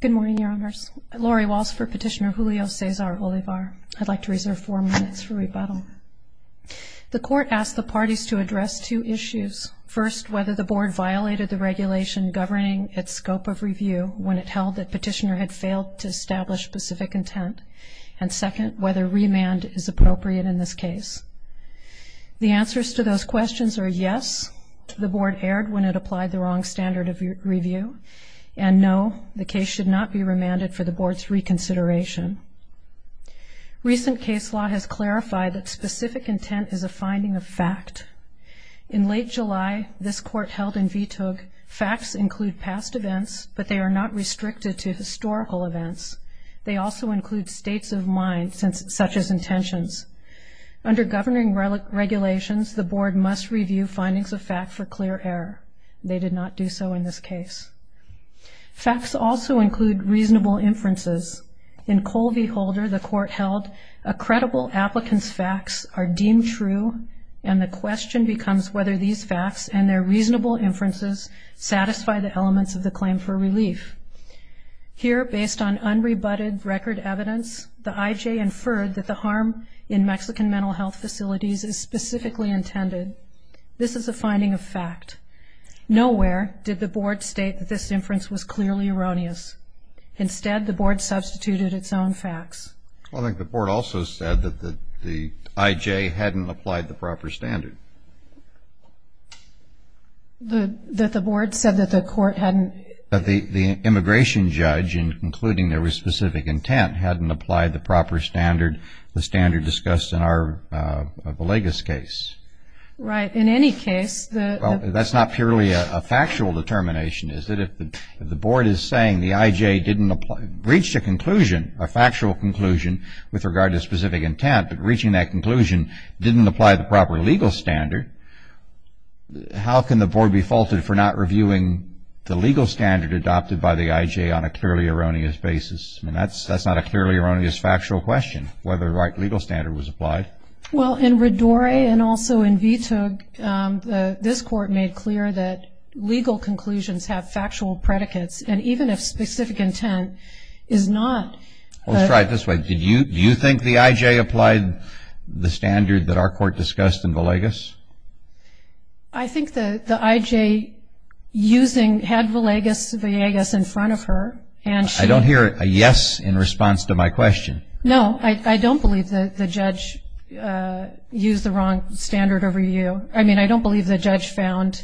Good morning, Your Honors. Laurie Walsh for Petitioner Julio Cesar Olivar. I'd like to reserve four minutes for rebuttal. The Court asked the parties to address two issues. First, whether the Board violated the regulation governing its scope of review when it held that Petitioner had failed to establish specific intent, and second, whether remand is appropriate in this case. The answers to those questions are yes, the Board erred when it applied the wrong standard of review, and no, the case should not be remanded for the Board's reconsideration. Recent case law has clarified that specific intent is a finding of fact. In late July, this Court held in VTUG facts include past events, but they are not restricted to historical events. They also include states of mind, such as intentions. Under governing regulations, the Board must review findings of fact for clear error. They did not do so in this case. Facts also include reasonable inferences. In Cole v. Holder, the Court held a credible applicant's facts are deemed true, and the question becomes whether these facts and their reasonable inferences satisfy the elements of the claim for relief. Here, based on unrebutted record evidence, the IJ inferred that the harm in Mexican mental health facilities is specifically intended. This is a finding of fact. Nowhere did the Board state that this inference was clearly erroneous. Instead, the Board substituted its own facts. I think the Board also said that the IJ hadn't applied the proper standard. That the Board said that the Court hadn't? That the immigration judge, in concluding there was specific intent, hadn't applied the proper standard, the standard discussed in our Villegas case. Right. In any case, the? Well, that's not purely a factual determination, is it? If the Board is saying the IJ didn't reach a conclusion, a factual conclusion with regard to specific intent, but reaching that conclusion didn't apply the proper legal standard, how can the Board be faulted for not reviewing the legal standard adopted by the IJ on a clearly erroneous basis? I mean, that's not a clearly erroneous factual question, whether the right legal standard was applied. Well, in RIDORE and also in VTUG, this Court made clear that legal conclusions have factual predicates, and even if specific intent is not? Let's try it this way. Do you think the IJ applied the standard that our Court discussed in Villegas? I think the IJ using, had Villegas in front of her, and she? I don't hear a yes in response to my question. No, I don't believe the judge used the wrong standard over you. I mean, I don't believe the judge found,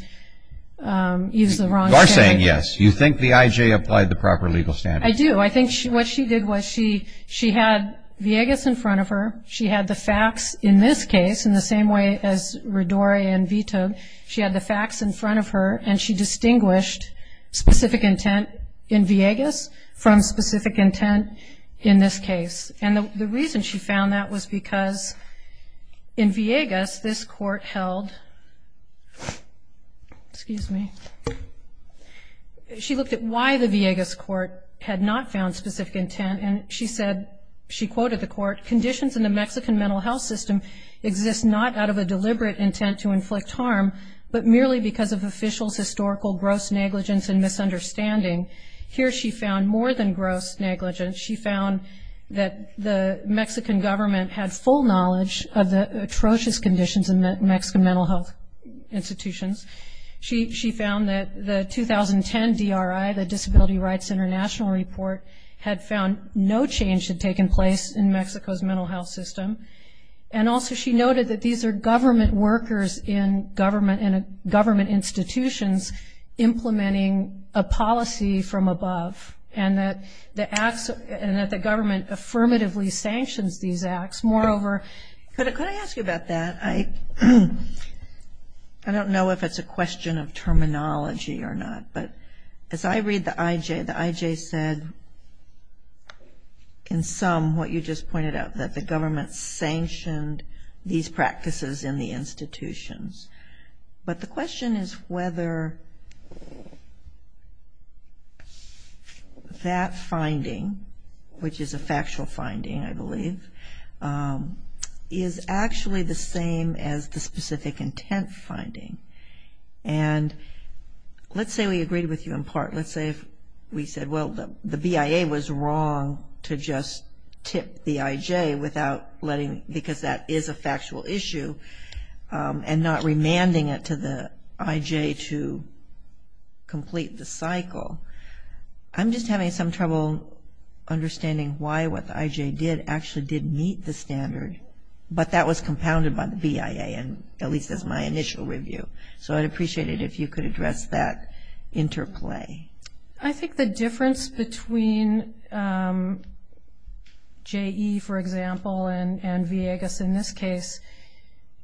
used the wrong standard. You are saying yes. You think the IJ applied the proper legal standard? I do. I think what she did was she had Villegas in front of her. She had the facts in this case, in the same way as RIDORE and VTUG. She had the facts in front of her, and she distinguished specific intent in Villegas from specific intent in this case. And the reason she found that was because in Villegas, this Court held? Excuse me. She looked at why the Villegas Court had not found specific intent, and she said, she quoted the Court, ?Conditions in the Mexican mental health system exist not out of a deliberate intent to inflict harm but merely because of officials' historical gross negligence and misunderstanding.? Here she found more than gross negligence. She found that the Mexican government had full knowledge of the atrocious conditions in the Mexican mental health institutions. She found that the 2010 DRI, the Disability Rights International Report, had found no change had taken place in Mexico's mental health system. And also she noted that these are government workers in government institutions implementing a policy from above, and that the government affirmatively sanctions these acts. Moreover? Could I ask you about that? I don't know if it's a question of terminology or not, but as I read the IJ, the IJ said in sum what you just pointed out, that the government sanctioned these practices in the institutions. But the question is whether that finding, which is a factual finding, I believe, is actually the same as the specific intent finding. And let's say we agreed with you in part. Let's say we said, well, the BIA was wrong to just tip the IJ without letting, because that is a factual issue, and not remanding it to the IJ to complete the cycle. I'm just having some trouble understanding why what the IJ did actually did meet the standard, but that was compounded by the BIA, at least as my initial review. So I'd appreciate it if you could address that interplay. I think the difference between JE, for example, and VIEGAS in this case,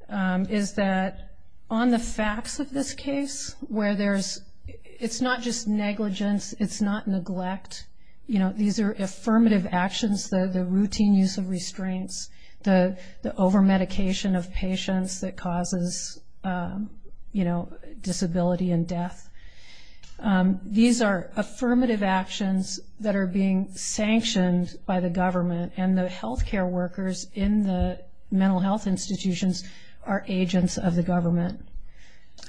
is that on the facts of this case, where it's not just negligence, it's not neglect. These are affirmative actions, the routine use of restraints, the overmedication of patients that causes, you know, disability and death. These are affirmative actions that are being sanctioned by the government, and the healthcare workers in the mental health institutions are agents of the government.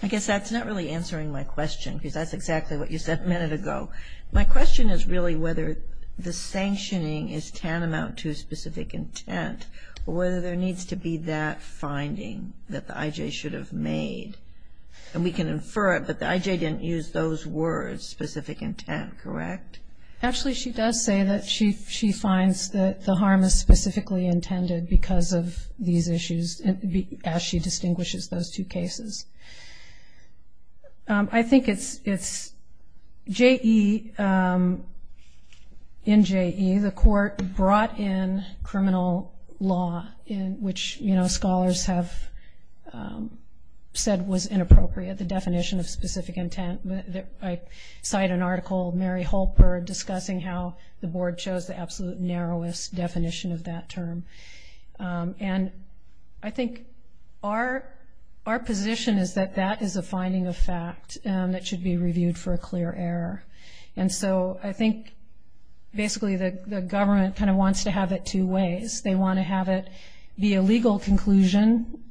I guess that's not really answering my question, because that's exactly what you said a minute ago. My question is really whether the sanctioning is tantamount to a specific intent, or whether there needs to be that finding that the IJ should have made. And we can infer it, but the IJ didn't use those words, specific intent, correct? Actually, she does say that she finds that the harm is specifically intended because of these issues, as she distinguishes those two cases. I think it's JE, in JE, the court brought in criminal law, which, you know, scholars have said was inappropriate, the definition of specific intent. I cite an article, Mary Holper, discussing how the board chose the absolute narrowest definition of that term. And I think our position is that that is a finding of fact that should be reviewed for a clear error. And so I think basically the government kind of wants to have it two ways. They want to have it be a legal conclusion,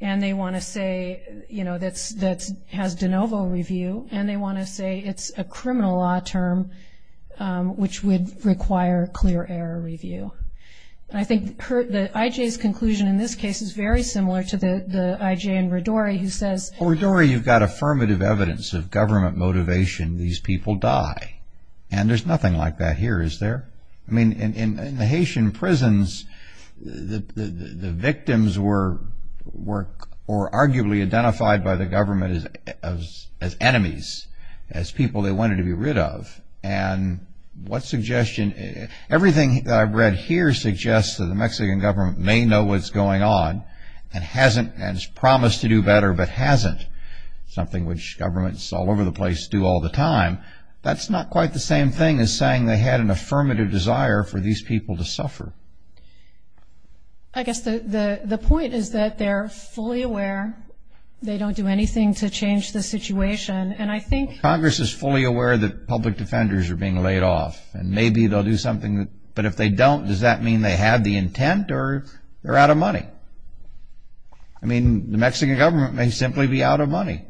and they want to say, you know, that has de novo review, and they want to say it's a criminal law term, which would require clear error review. And I think the IJ's conclusion in this case is very similar to the IJ in Riddori, who says... Well, Riddori, you've got affirmative evidence of government motivation, these people die. And there's nothing like that here, is there? I mean, in the Haitian prisons, the victims were arguably identified by the government as enemies, as people they wanted to be rid of. And what suggestion... Everything that I've read here suggests that the Mexican government may know what's going on and has promised to do better, but hasn't, something which governments all over the place do all the time. That's not quite the same thing as saying they had an affirmative desire for these people to suffer. I guess the point is that they're fully aware, they don't do anything to change the situation. Congress is fully aware that public defenders are being laid off, and maybe they'll do something, but if they don't, does that mean they have the intent, or they're out of money? I mean, the Mexican government may simply be out of money.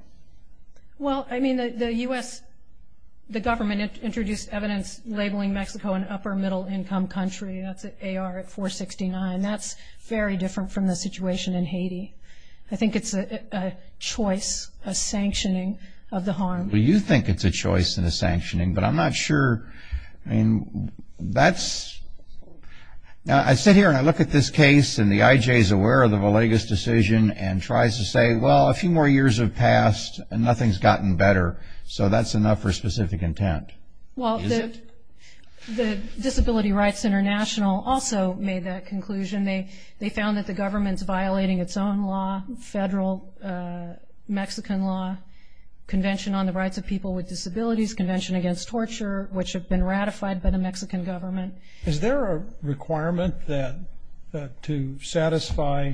Well, I mean, the U.S., the government introduced evidence labeling Mexico an upper-middle-income country, that's AR at 469, that's very different from the situation in Haiti. I think it's a choice, a sanctioning of the harm. Well, you think it's a choice and a sanctioning, but I'm not sure, I mean, that's... Now, I sit here and I look at this case and the IJ is aware of the Villegas decision and tries to say, well, a few more years have passed and nothing's gotten better, so that's enough for specific intent, is it? The Disability Rights International also made that conclusion. They found that the government's violating its own law, federal Mexican law, Convention on the Rights of People with Disabilities, Convention Against Torture, which have been ratified by the Mexican government. Is there a requirement to satisfy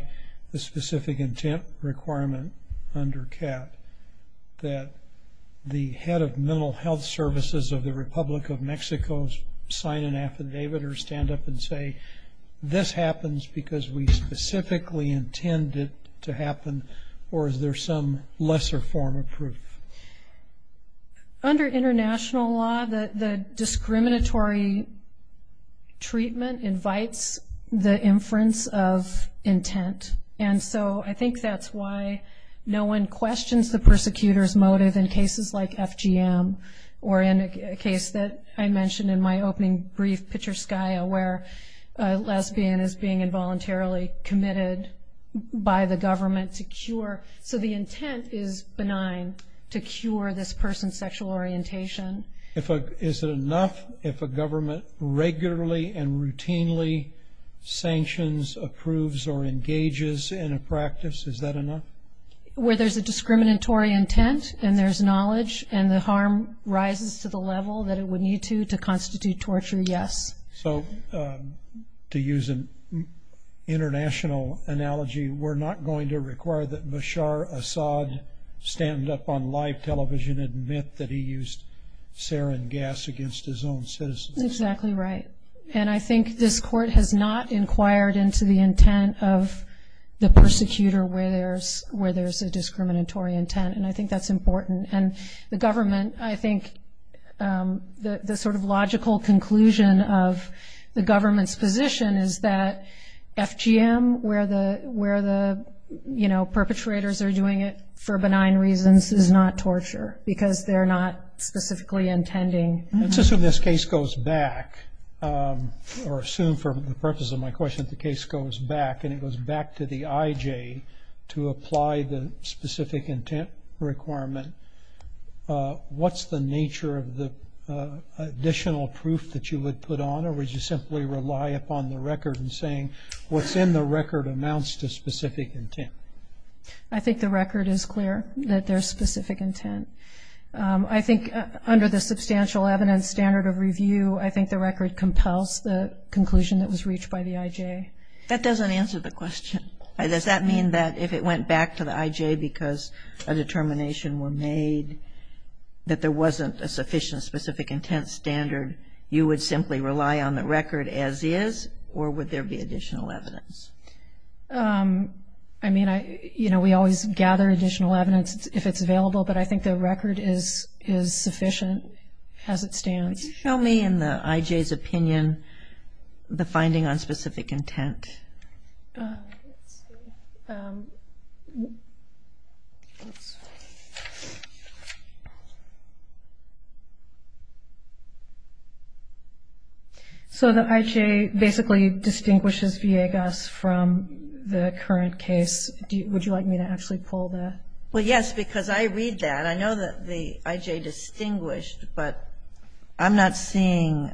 the specific intent requirement under CAP that the head of mental health services of the Republic of Mexico sign an affidavit or stand up and say, this happens because we specifically intend it to happen, or is there some lesser form of proof? Under international law, the discriminatory treatment invites the inference of intent, and so I think that's why no one questions the persecutor's motive in cases like FGM or in a case that I mentioned in my opening brief, Pichuskaya, where a lesbian is being involuntarily committed by the government to cure. So the intent is benign to cure this person's sexual orientation. Is it enough if a government regularly and routinely sanctions, approves, or engages in a practice, is that enough? Where there's a discriminatory intent and there's knowledge and the harm rises to the level that it would need to to constitute torture, yes. So to use an international analogy, we're not going to require that Bashar Assad stand up on live television and admit that he used sarin gas against his own citizens? Exactly right, and I think this court has not inquired into the intent of the persecutor where there's a discriminatory intent, and I think that's important. And the government, I think the sort of logical conclusion of the government's position is that FGM, where the perpetrators are doing it for benign reasons, is not torture, because they're not specifically intending... Let's assume this case goes back, or assume for the purpose of my question, the case goes back and it goes back to the IJ to apply the specific intent requirement. What's the nature of the additional proof that you would put on, or would you simply rely upon the record in saying what's in the record amounts to specific intent? I think the record is clear that there's specific intent. I think under the substantial evidence standard of review, I think the record compels the conclusion that was reached by the IJ. That doesn't answer the question. Does that mean that if it went back to the IJ because a determination were made that there wasn't a sufficient specific intent standard, you would simply rely on the record as is, or would there be additional evidence? I mean, you know, we always gather additional evidence if it's available, but I think the record is sufficient as it stands. Can you show me in the IJ's opinion the finding on specific intent? So the IJ basically distinguishes VAGUS from the current case. Would you like me to actually pull that? Well, yes, because I read that. I know that the IJ distinguished, but I'm not seeing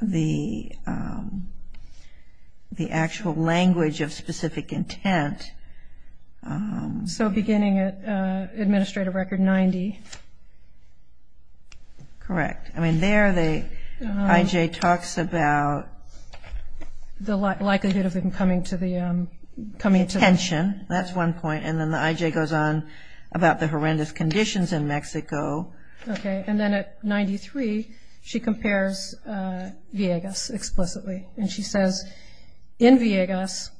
the actual language of specific intent. So beginning at administrative record 90. Correct. I mean, there the IJ talks about the likelihood of them coming to the pension. That's one point, and then the IJ goes on about the horrendous conditions in Mexico. Okay, and then at 93, she compares VAGUS explicitly, and she says in VAGUS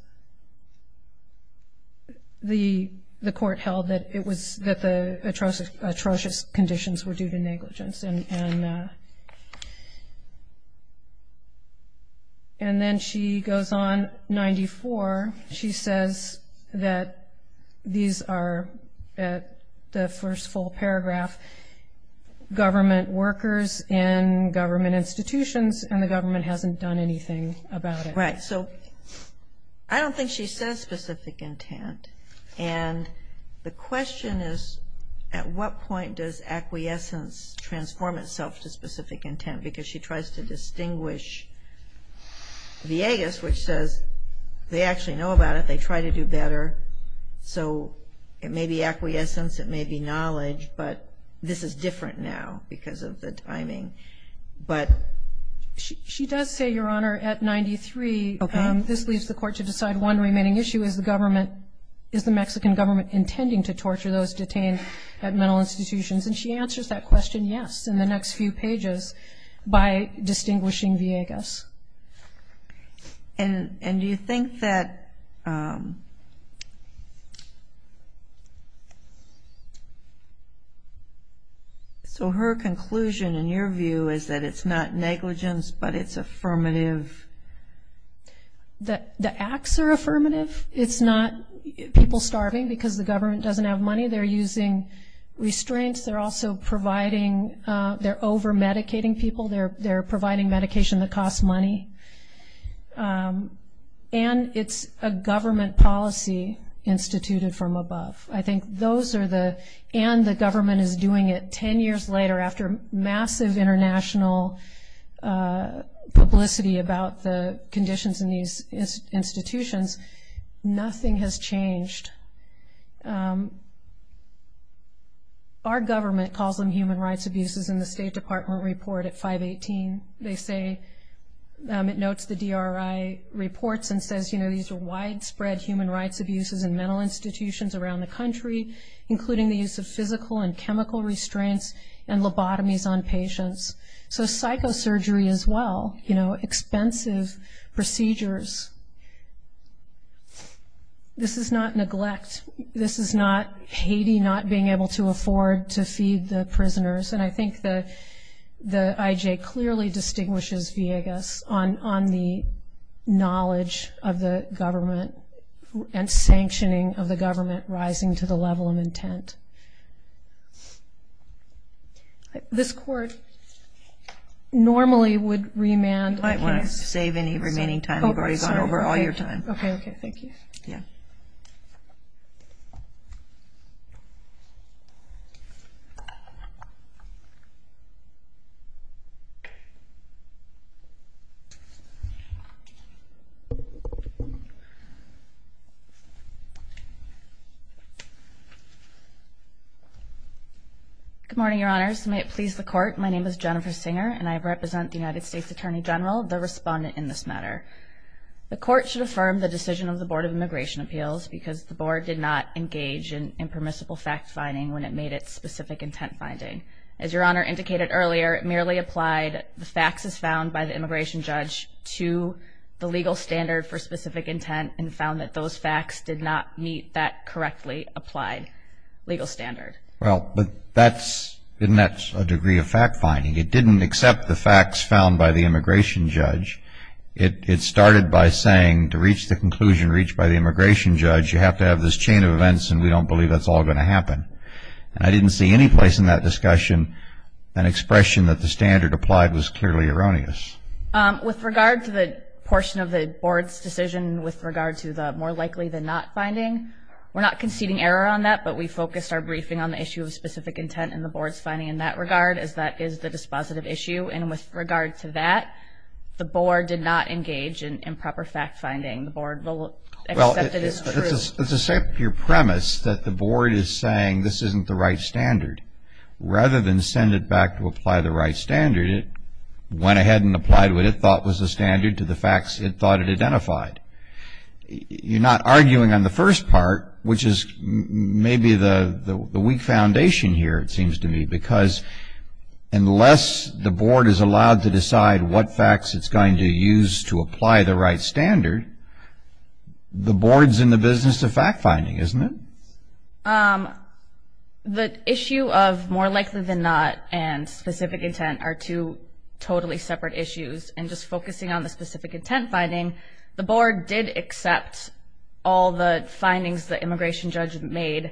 the court held that the atrocious conditions were due to negligence. And then she goes on 94, she says that these are at the first full paragraph, government workers in government institutions, and the government hasn't done anything about it. Right, so I don't think she says specific intent, and the question is at what point does acquiescence transform itself to specific intent, because she tries to distinguish VAGUS, which says they actually know about it, they try to do better, so it may be acquiescence, it may be knowledge, but this is different now because of the timing. She does say, Your Honor, at 93, this leaves the court to decide one remaining issue, is the Mexican government intending to torture those detained at mental institutions, and she answers that question yes in the next few pages by distinguishing VAGUS. And do you think that, so her conclusion in your view is that it's not negligence, but it's affirmative? The acts are affirmative, it's not people starving because the government doesn't have money, they're using restraints, they're also providing, they're over-medicating people, they're providing medication that costs money, and it's a government policy instituted from above. I think those are the, and the government is doing it ten years later after massive international publicity about the conditions in these institutions, nothing has changed. Our government calls them human rights abuses in the State Department report at 518. They say, it notes the DRI reports and says, you know, these are widespread human rights abuses in mental institutions around the country, including the use of physical and chemical restraints and lobotomies on patients. So psychosurgery as well, you know, expensive procedures. This is not neglect. This is not Haiti not being able to afford to feed the prisoners, and I think the IJ clearly distinguishes Viegas on the knowledge of the government and sanctioning of the government rising to the level of intent. This court normally would remand. You might want to save any remaining time. Good morning, Your Honors. May it please the court. My name is Jennifer Singer, and I represent the United States Attorney General, the respondent in this matter. The court should affirm the decision of the Board of Immigration Appeals because the Board did not engage in impermissible fact-finding when it made its specific intent finding. As Your Honor indicated earlier, it merely applied the faxes found by the immigration judge to the legal standard for specific intent and found that those fax did not meet that correctly applied legal standard. Well, but that's a degree of fact-finding. It didn't accept the fax found by the immigration judge. It started by saying to reach the conclusion reached by the immigration judge, you have to have this chain of events, and we don't believe that's all going to happen. And I didn't see any place in that discussion an expression that the standard applied was clearly erroneous. With regard to the portion of the Board's decision with regard to the more likely than not finding, we're not conceding error on that, but we focused our briefing on the issue of specific intent and the Board's finding in that regard, as that is the dispositive issue. And with regard to that, the Board did not engage in improper fact-finding. The Board accepted it as true. Well, it's the same pure premise that the Board is saying this isn't the right standard. Rather than send it back to apply the right standard, it went ahead and applied what it thought was the standard to the fax it thought it identified. You're not arguing on the first part, which is maybe the weak foundation here, it seems to me, because unless the Board is allowed to decide what fax it's going to use to apply the right standard, the Board's in the business of fact-finding, isn't it? The issue of more likely than not and specific intent are two totally separate issues, and just focusing on the specific intent finding, the Board did accept all the findings the immigration judge made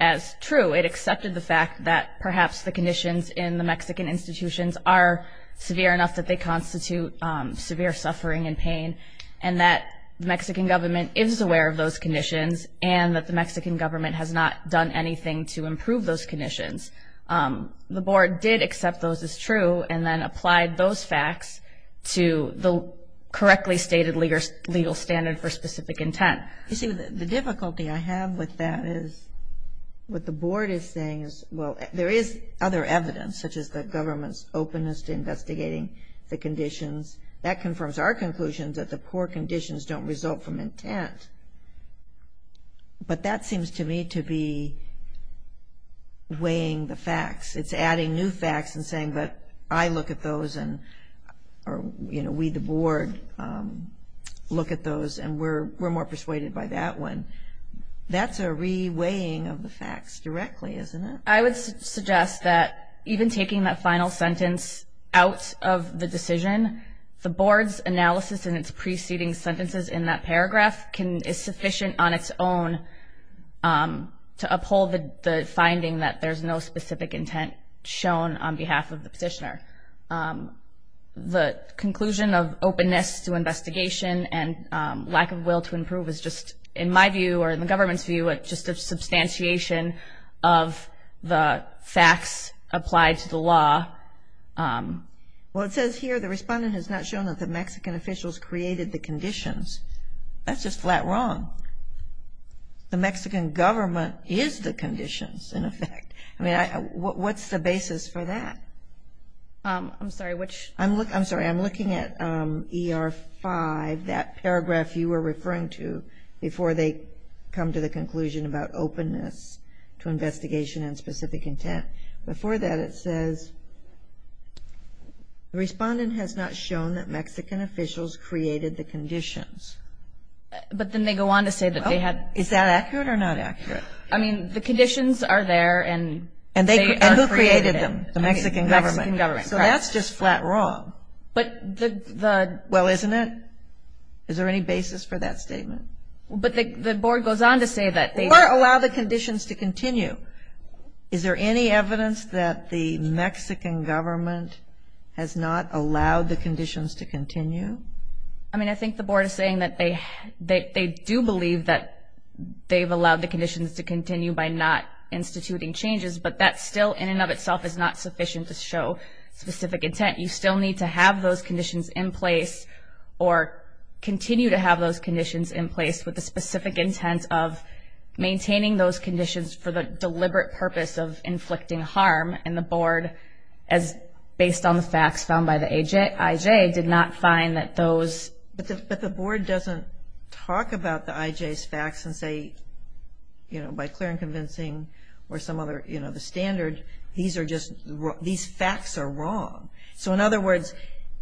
as true. It accepted the fact that perhaps the conditions in the Mexican institutions are severe enough that they constitute severe suffering and pain, and that the Mexican government is aware of those conditions, and that the Mexican government has not done anything to improve those conditions. The Board did accept those as true and then applied those facts to the correctly stated legal standard for specific intent. You see, the difficulty I have with that is what the Board is saying is, well, there is other evidence, such as the government's openness to investigating the conditions. That confirms our conclusion that the poor conditions don't result from intent, but that seems to me to be weighing the facts. It's adding new facts and saying, but I look at those, or we the Board look at those, and we're more persuaded by that one. That's a re-weighing of the facts directly, isn't it? I would suggest that even taking that final sentence out of the decision, the Board's analysis in its preceding sentences in that paragraph is sufficient on its own to uphold the finding that there's no specific intent shown on behalf of the petitioner. The conclusion of openness to investigation and lack of will to improve is just, in my view or in the government's view, just a substantiation of the facts applied to the law. Well, it says here the respondent has not shown that the Mexican officials created the conditions. That's just flat wrong. I mean, what's the basis for that? I'm sorry, I'm looking at ER 5, that paragraph you were referring to, before they come to the conclusion about openness to investigation and specific intent. Before that it says, the respondent has not shown that Mexican officials created the conditions. But then they go on to say that they had. Is that accurate or not accurate? I mean, the conditions are there and they are created. And who created them? The Mexican government. So that's just flat wrong. Well, isn't it? Is there any basis for that statement? Or allow the conditions to continue. Is there any evidence that the Mexican government has not allowed the conditions to continue? I mean, I think the board is saying that they do believe that they've allowed the conditions to continue by not instituting changes, but that still in and of itself is not sufficient to show specific intent. You still need to have those conditions in place or continue to have those conditions in place with the specific intent of maintaining those conditions for the deliberate purpose of inflicting harm. And the board, based on the facts found by the IJ, did not find that those. But the board doesn't talk about the IJ's facts and say, by clear and convincing or some other standard, these facts are wrong. So in other words,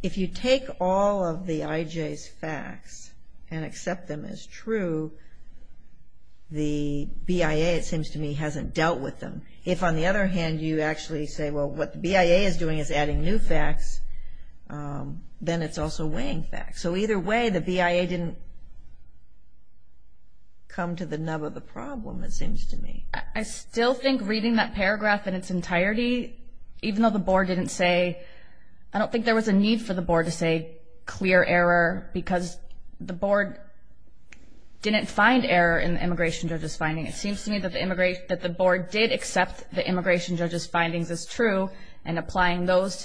if you take all of the IJ's facts and accept them as true, the BIA, it seems to me, hasn't dealt with them. If, on the other hand, you actually say, well, what the BIA is doing is adding new facts, then it's also weighing facts. So either way, the BIA didn't come to the nub of the problem, it seems to me. I still think reading that paragraph in its entirety, even though the board didn't say, I don't think there was a need for the board to say clear error, because the board didn't find error in the immigration judge's findings. It seems to me that the board did accept the immigration judge's findings as true and applying those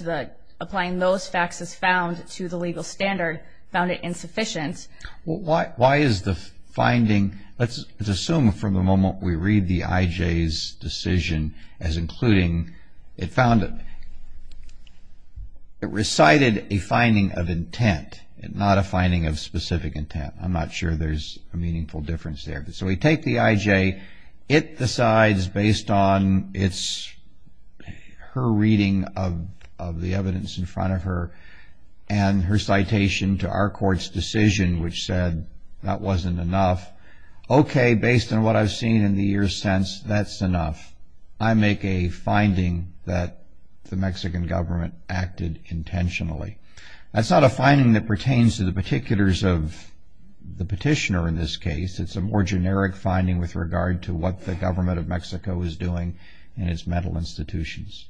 facts as found to the legal standard, found it insufficient. Well, why is the finding, let's assume from the moment we read the IJ's decision as including it found it. It recited a finding of intent, not a finding of specific intent. I'm not sure there's a meaningful difference there. So we take the IJ. It decides based on her reading of the evidence in front of her and her citation to our court's decision, which said that wasn't enough. Okay, based on what I've seen in the years since, that's enough. I make a finding that the Mexican government acted intentionally. That's not a finding that pertains to the particulars of the petitioner in this case. It's a more generic finding with regard to what the government of Mexico is doing in its mental institutions.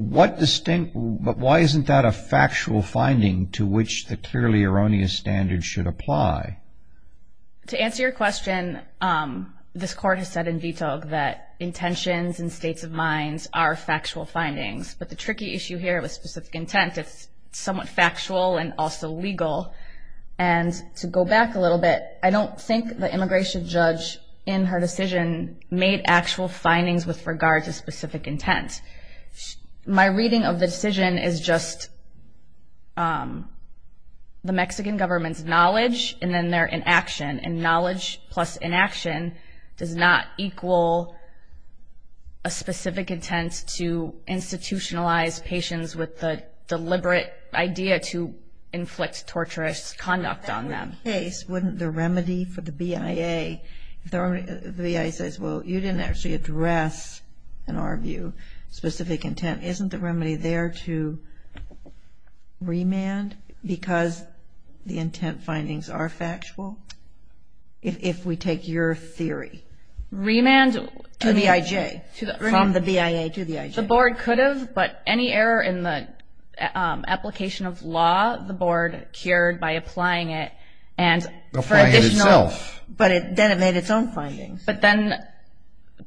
But why isn't that a factual finding to which the clearly erroneous standard should apply? To answer your question, this court has said in detail that intentions and states of minds are factual findings, but the tricky issue here with specific intent, it's somewhat factual and also legal. And to go back a little bit, I don't think the immigration judge in her decision made actual findings with regard to specific intent. My reading of the decision is just the Mexican government's knowledge and then their inaction. And knowledge plus inaction does not equal a specific intent to institutionalize patients with the deliberate idea to inflict torturous conduct on them. In that case, wouldn't the remedy for the BIA, if the BIA says, well, you didn't actually address, in our view, specific intent, isn't the remedy there to remand because the intent findings are factual? If we take your theory. Remand to the IJ, from the BIA to the IJ. The board could have, but any error in the application of law, the board cured by applying it. Applying it itself. But then it made its own findings. But then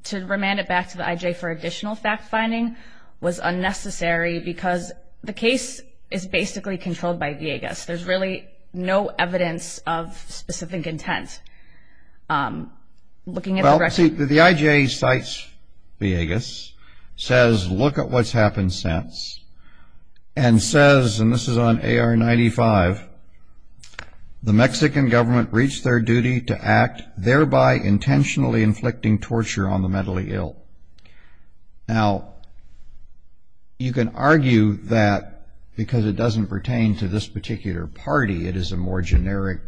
to remand it back to the IJ for additional fact finding was unnecessary because the case is basically controlled by VIEGAS. There's really no evidence of specific intent. Well, the IJ cites VIEGAS, says look at what's happened since, and says, and this is on AR-95, the Mexican government reached their duty to act, thereby intentionally inflicting torture on the mentally ill. Now, you can argue that because it doesn't pertain to this particular party, it is a more generic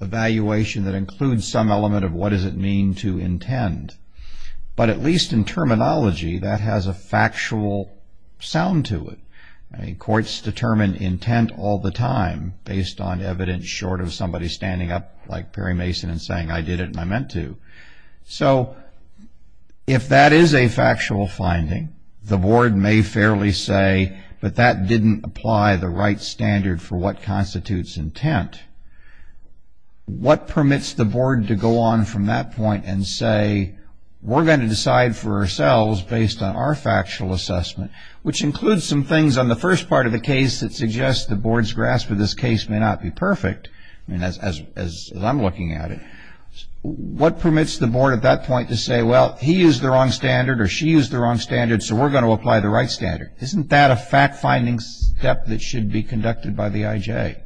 evaluation that includes some element of what does it mean to intend. But at least in terminology, that has a factual sound to it. Courts determine intent all the time based on evidence short of somebody standing up like Perry Mason and saying I did it and I meant to. So if that is a factual finding, the board may fairly say, but that didn't apply the right standard for what constitutes intent. What permits the board to go on from that point and say, we're going to decide for ourselves based on our factual assessment, which includes some things on the first part of the case that suggests the board's grasp of this case may not be perfect, as I'm looking at it, what permits the board at that point to say, well, he used the wrong standard or she used the wrong standard, so we're going to apply the right standard. Isn't that a fact finding step that should be conducted by the IJ?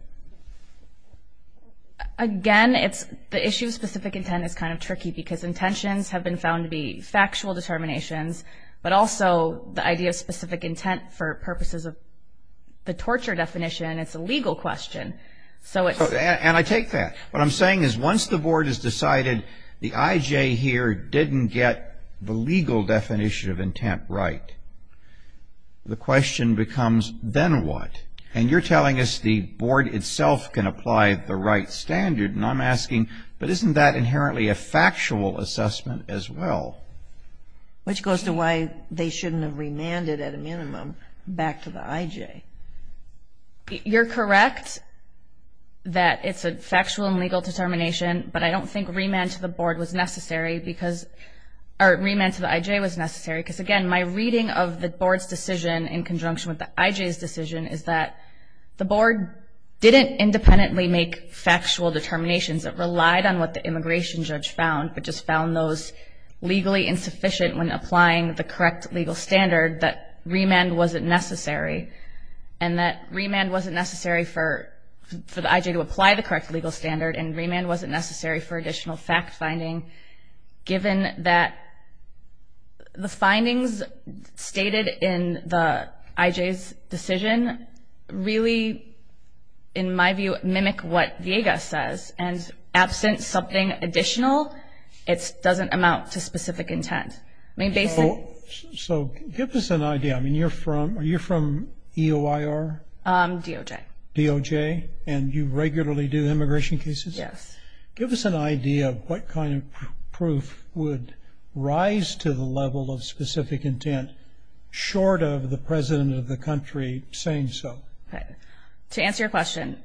Again, the issue of specific intent is kind of tricky because intentions have been found to be factual determinations, but also the idea of specific intent for purposes of the torture definition, it's a legal question. And I take that. What I'm saying is once the board has decided the IJ here didn't get the legal definition of intent right, the question becomes, then what? And you're telling us the board itself can apply the right standard, and I'm asking, but isn't that inherently a factual assessment as well? Which goes to why they shouldn't have remanded at a minimum back to the IJ. You're correct that it's a factual and legal determination, but I don't think remand to the board was necessary or remand to the IJ was necessary because, again, my reading of the board's decision in conjunction with the IJ's decision is that the board didn't independently make factual determinations. It relied on what the immigration judge found but just found those legally insufficient when applying the correct legal standard that remand wasn't necessary and that remand wasn't necessary for the IJ to apply the correct legal standard and remand wasn't necessary for additional fact-finding given that the findings stated in the IJ's decision really, in my view, mimic what Viega says. And absent something additional, it doesn't amount to specific intent. So give us an idea. I mean, you're from EOIR? DOJ. DOJ, and you regularly do immigration cases? Yes. Give us an idea of what kind of proof would rise to the level of specific intent short of the president of the country saying so. To answer your question,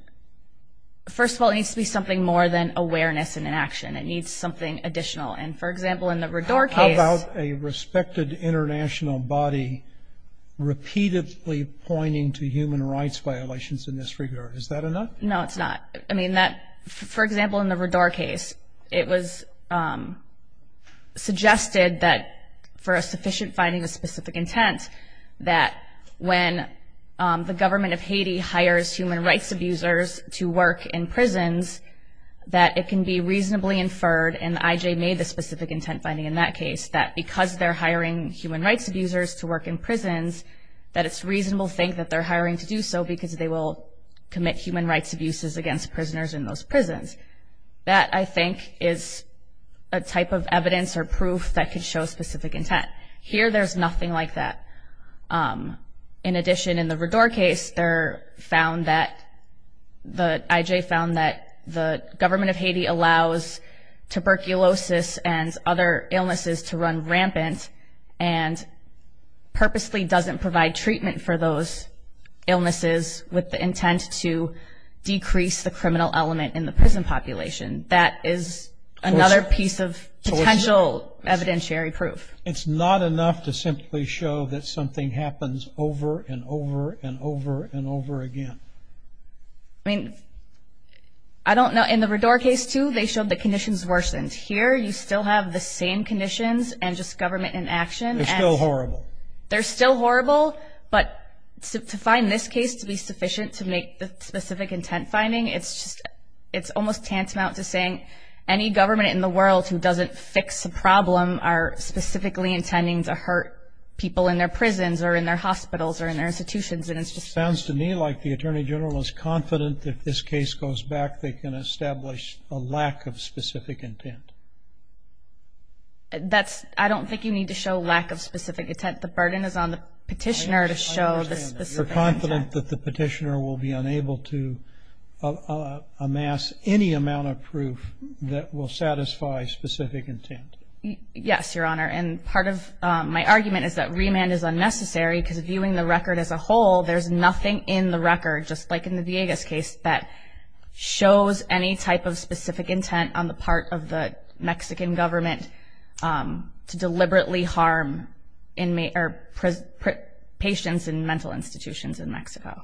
first of all, it needs to be something more than awareness and inaction. It needs something additional. And, for example, in the Radar case How about a respected international body repeatedly pointing to human rights violations in this regard? Is that enough? No, it's not. I mean, for example, in the Radar case, it was suggested that for a sufficient finding of specific intent that when the government of Haiti hires human rights abusers to work in prisons, that it can be reasonably inferred, and the IJ made the specific intent finding in that case, that because they're hiring human rights abusers to work in prisons, that it's reasonable to think that they're hiring to do so because they will commit human rights abuses against prisoners in those prisons. That, I think, is a type of evidence or proof that could show specific intent. Here, there's nothing like that. In addition, in the Radar case, the IJ found that the government of Haiti allows tuberculosis and other illnesses to run rampant and purposely doesn't provide treatment for those illnesses with the intent to decrease the criminal element in the prison population. That is another piece of potential evidentiary proof. It's not enough to simply show that something happens over and over and over and over again. I mean, I don't know. In the Radar case, too, they showed the conditions worsened. Here, you still have the same conditions and just government in action. They're still horrible. They're still horrible, but to find this case to be sufficient to make the specific intent finding, it's almost tantamount to saying any government in the world who doesn't fix the problem are specifically intending to hurt people in their prisons or in their hospitals or in their institutions. It sounds to me like the Attorney General is confident that if this case goes back, they can establish a lack of specific intent. I don't think you need to show lack of specific intent. The burden is on the petitioner to show the specific intent. You're confident that the petitioner will be unable to amass any amount of proof that will satisfy specific intent. Yes, Your Honor, and part of my argument is that remand is unnecessary because viewing the record as a whole, there's nothing in the record, just like in the Villegas case, that shows any type of specific intent on the part of the Mexican government to deliberately harm patients in mental institutions in Mexico.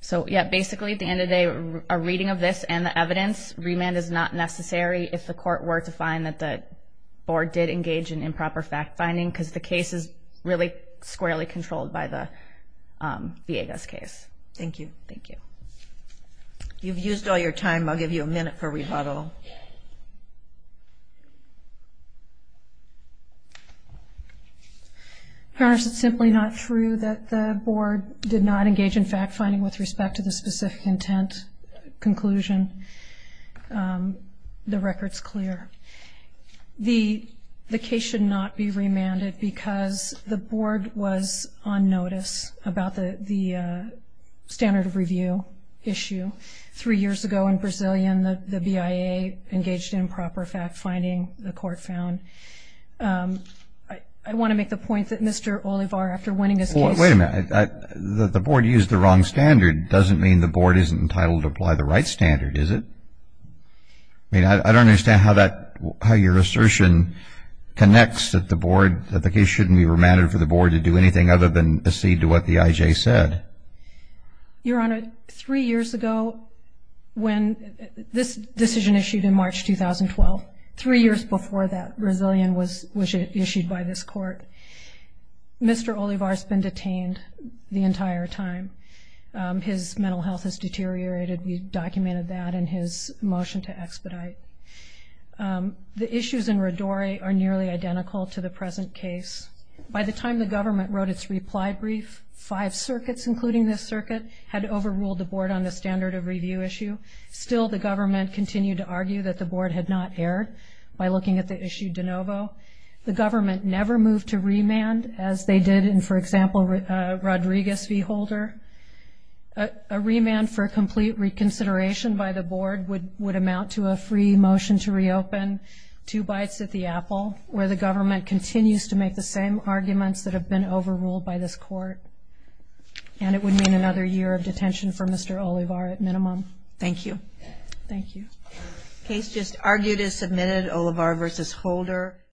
So, yeah, basically at the end of the day, a reading of this and the evidence, remand is not necessary if the court were to find that the board did engage in improper fact-finding because the case is really squarely controlled by the Villegas case. Thank you. Thank you. You've used all your time. I'll give you a minute for rebuttal. Your Honor, it's simply not true that the board did not engage in fact-finding with respect to the specific intent conclusion. The record's clear. The case should not be remanded because the board was on notice about the standard of review issue three years ago in Brasilia and the BIA engaged in improper fact-finding, the court found. I want to make the point that Mr. Olivar, after winning his case… Wait a minute. The board used the wrong standard doesn't mean the board isn't entitled to apply the right standard, is it? I mean, I don't understand how your assertion connects that the case shouldn't be remanded for the board to do anything other than accede to what the IJ said. Your Honor, three years ago when this decision issued in March 2012, three years before that Brasilian was issued by this court, Mr. Olivar's been detained the entire time. His mental health has deteriorated. We documented that in his motion to expedite. The issues in Rodore are nearly identical to the present case. By the time the government wrote its reply brief, five circuits, including this circuit, had overruled the board on the standard of review issue. Still, the government continued to argue that the board had not erred by looking at the issue de novo. The government never moved to remand as they did in, for example, Rodriguez v. Holder. A remand for complete reconsideration by the board would amount to a free motion to reopen two bites at the apple where the government continues to make the same arguments that have been overruled by this court. And it would mean another year of detention for Mr. Olivar at minimum. Thank you. Thank you. Case just argued as submitted, Olivar v. Holder.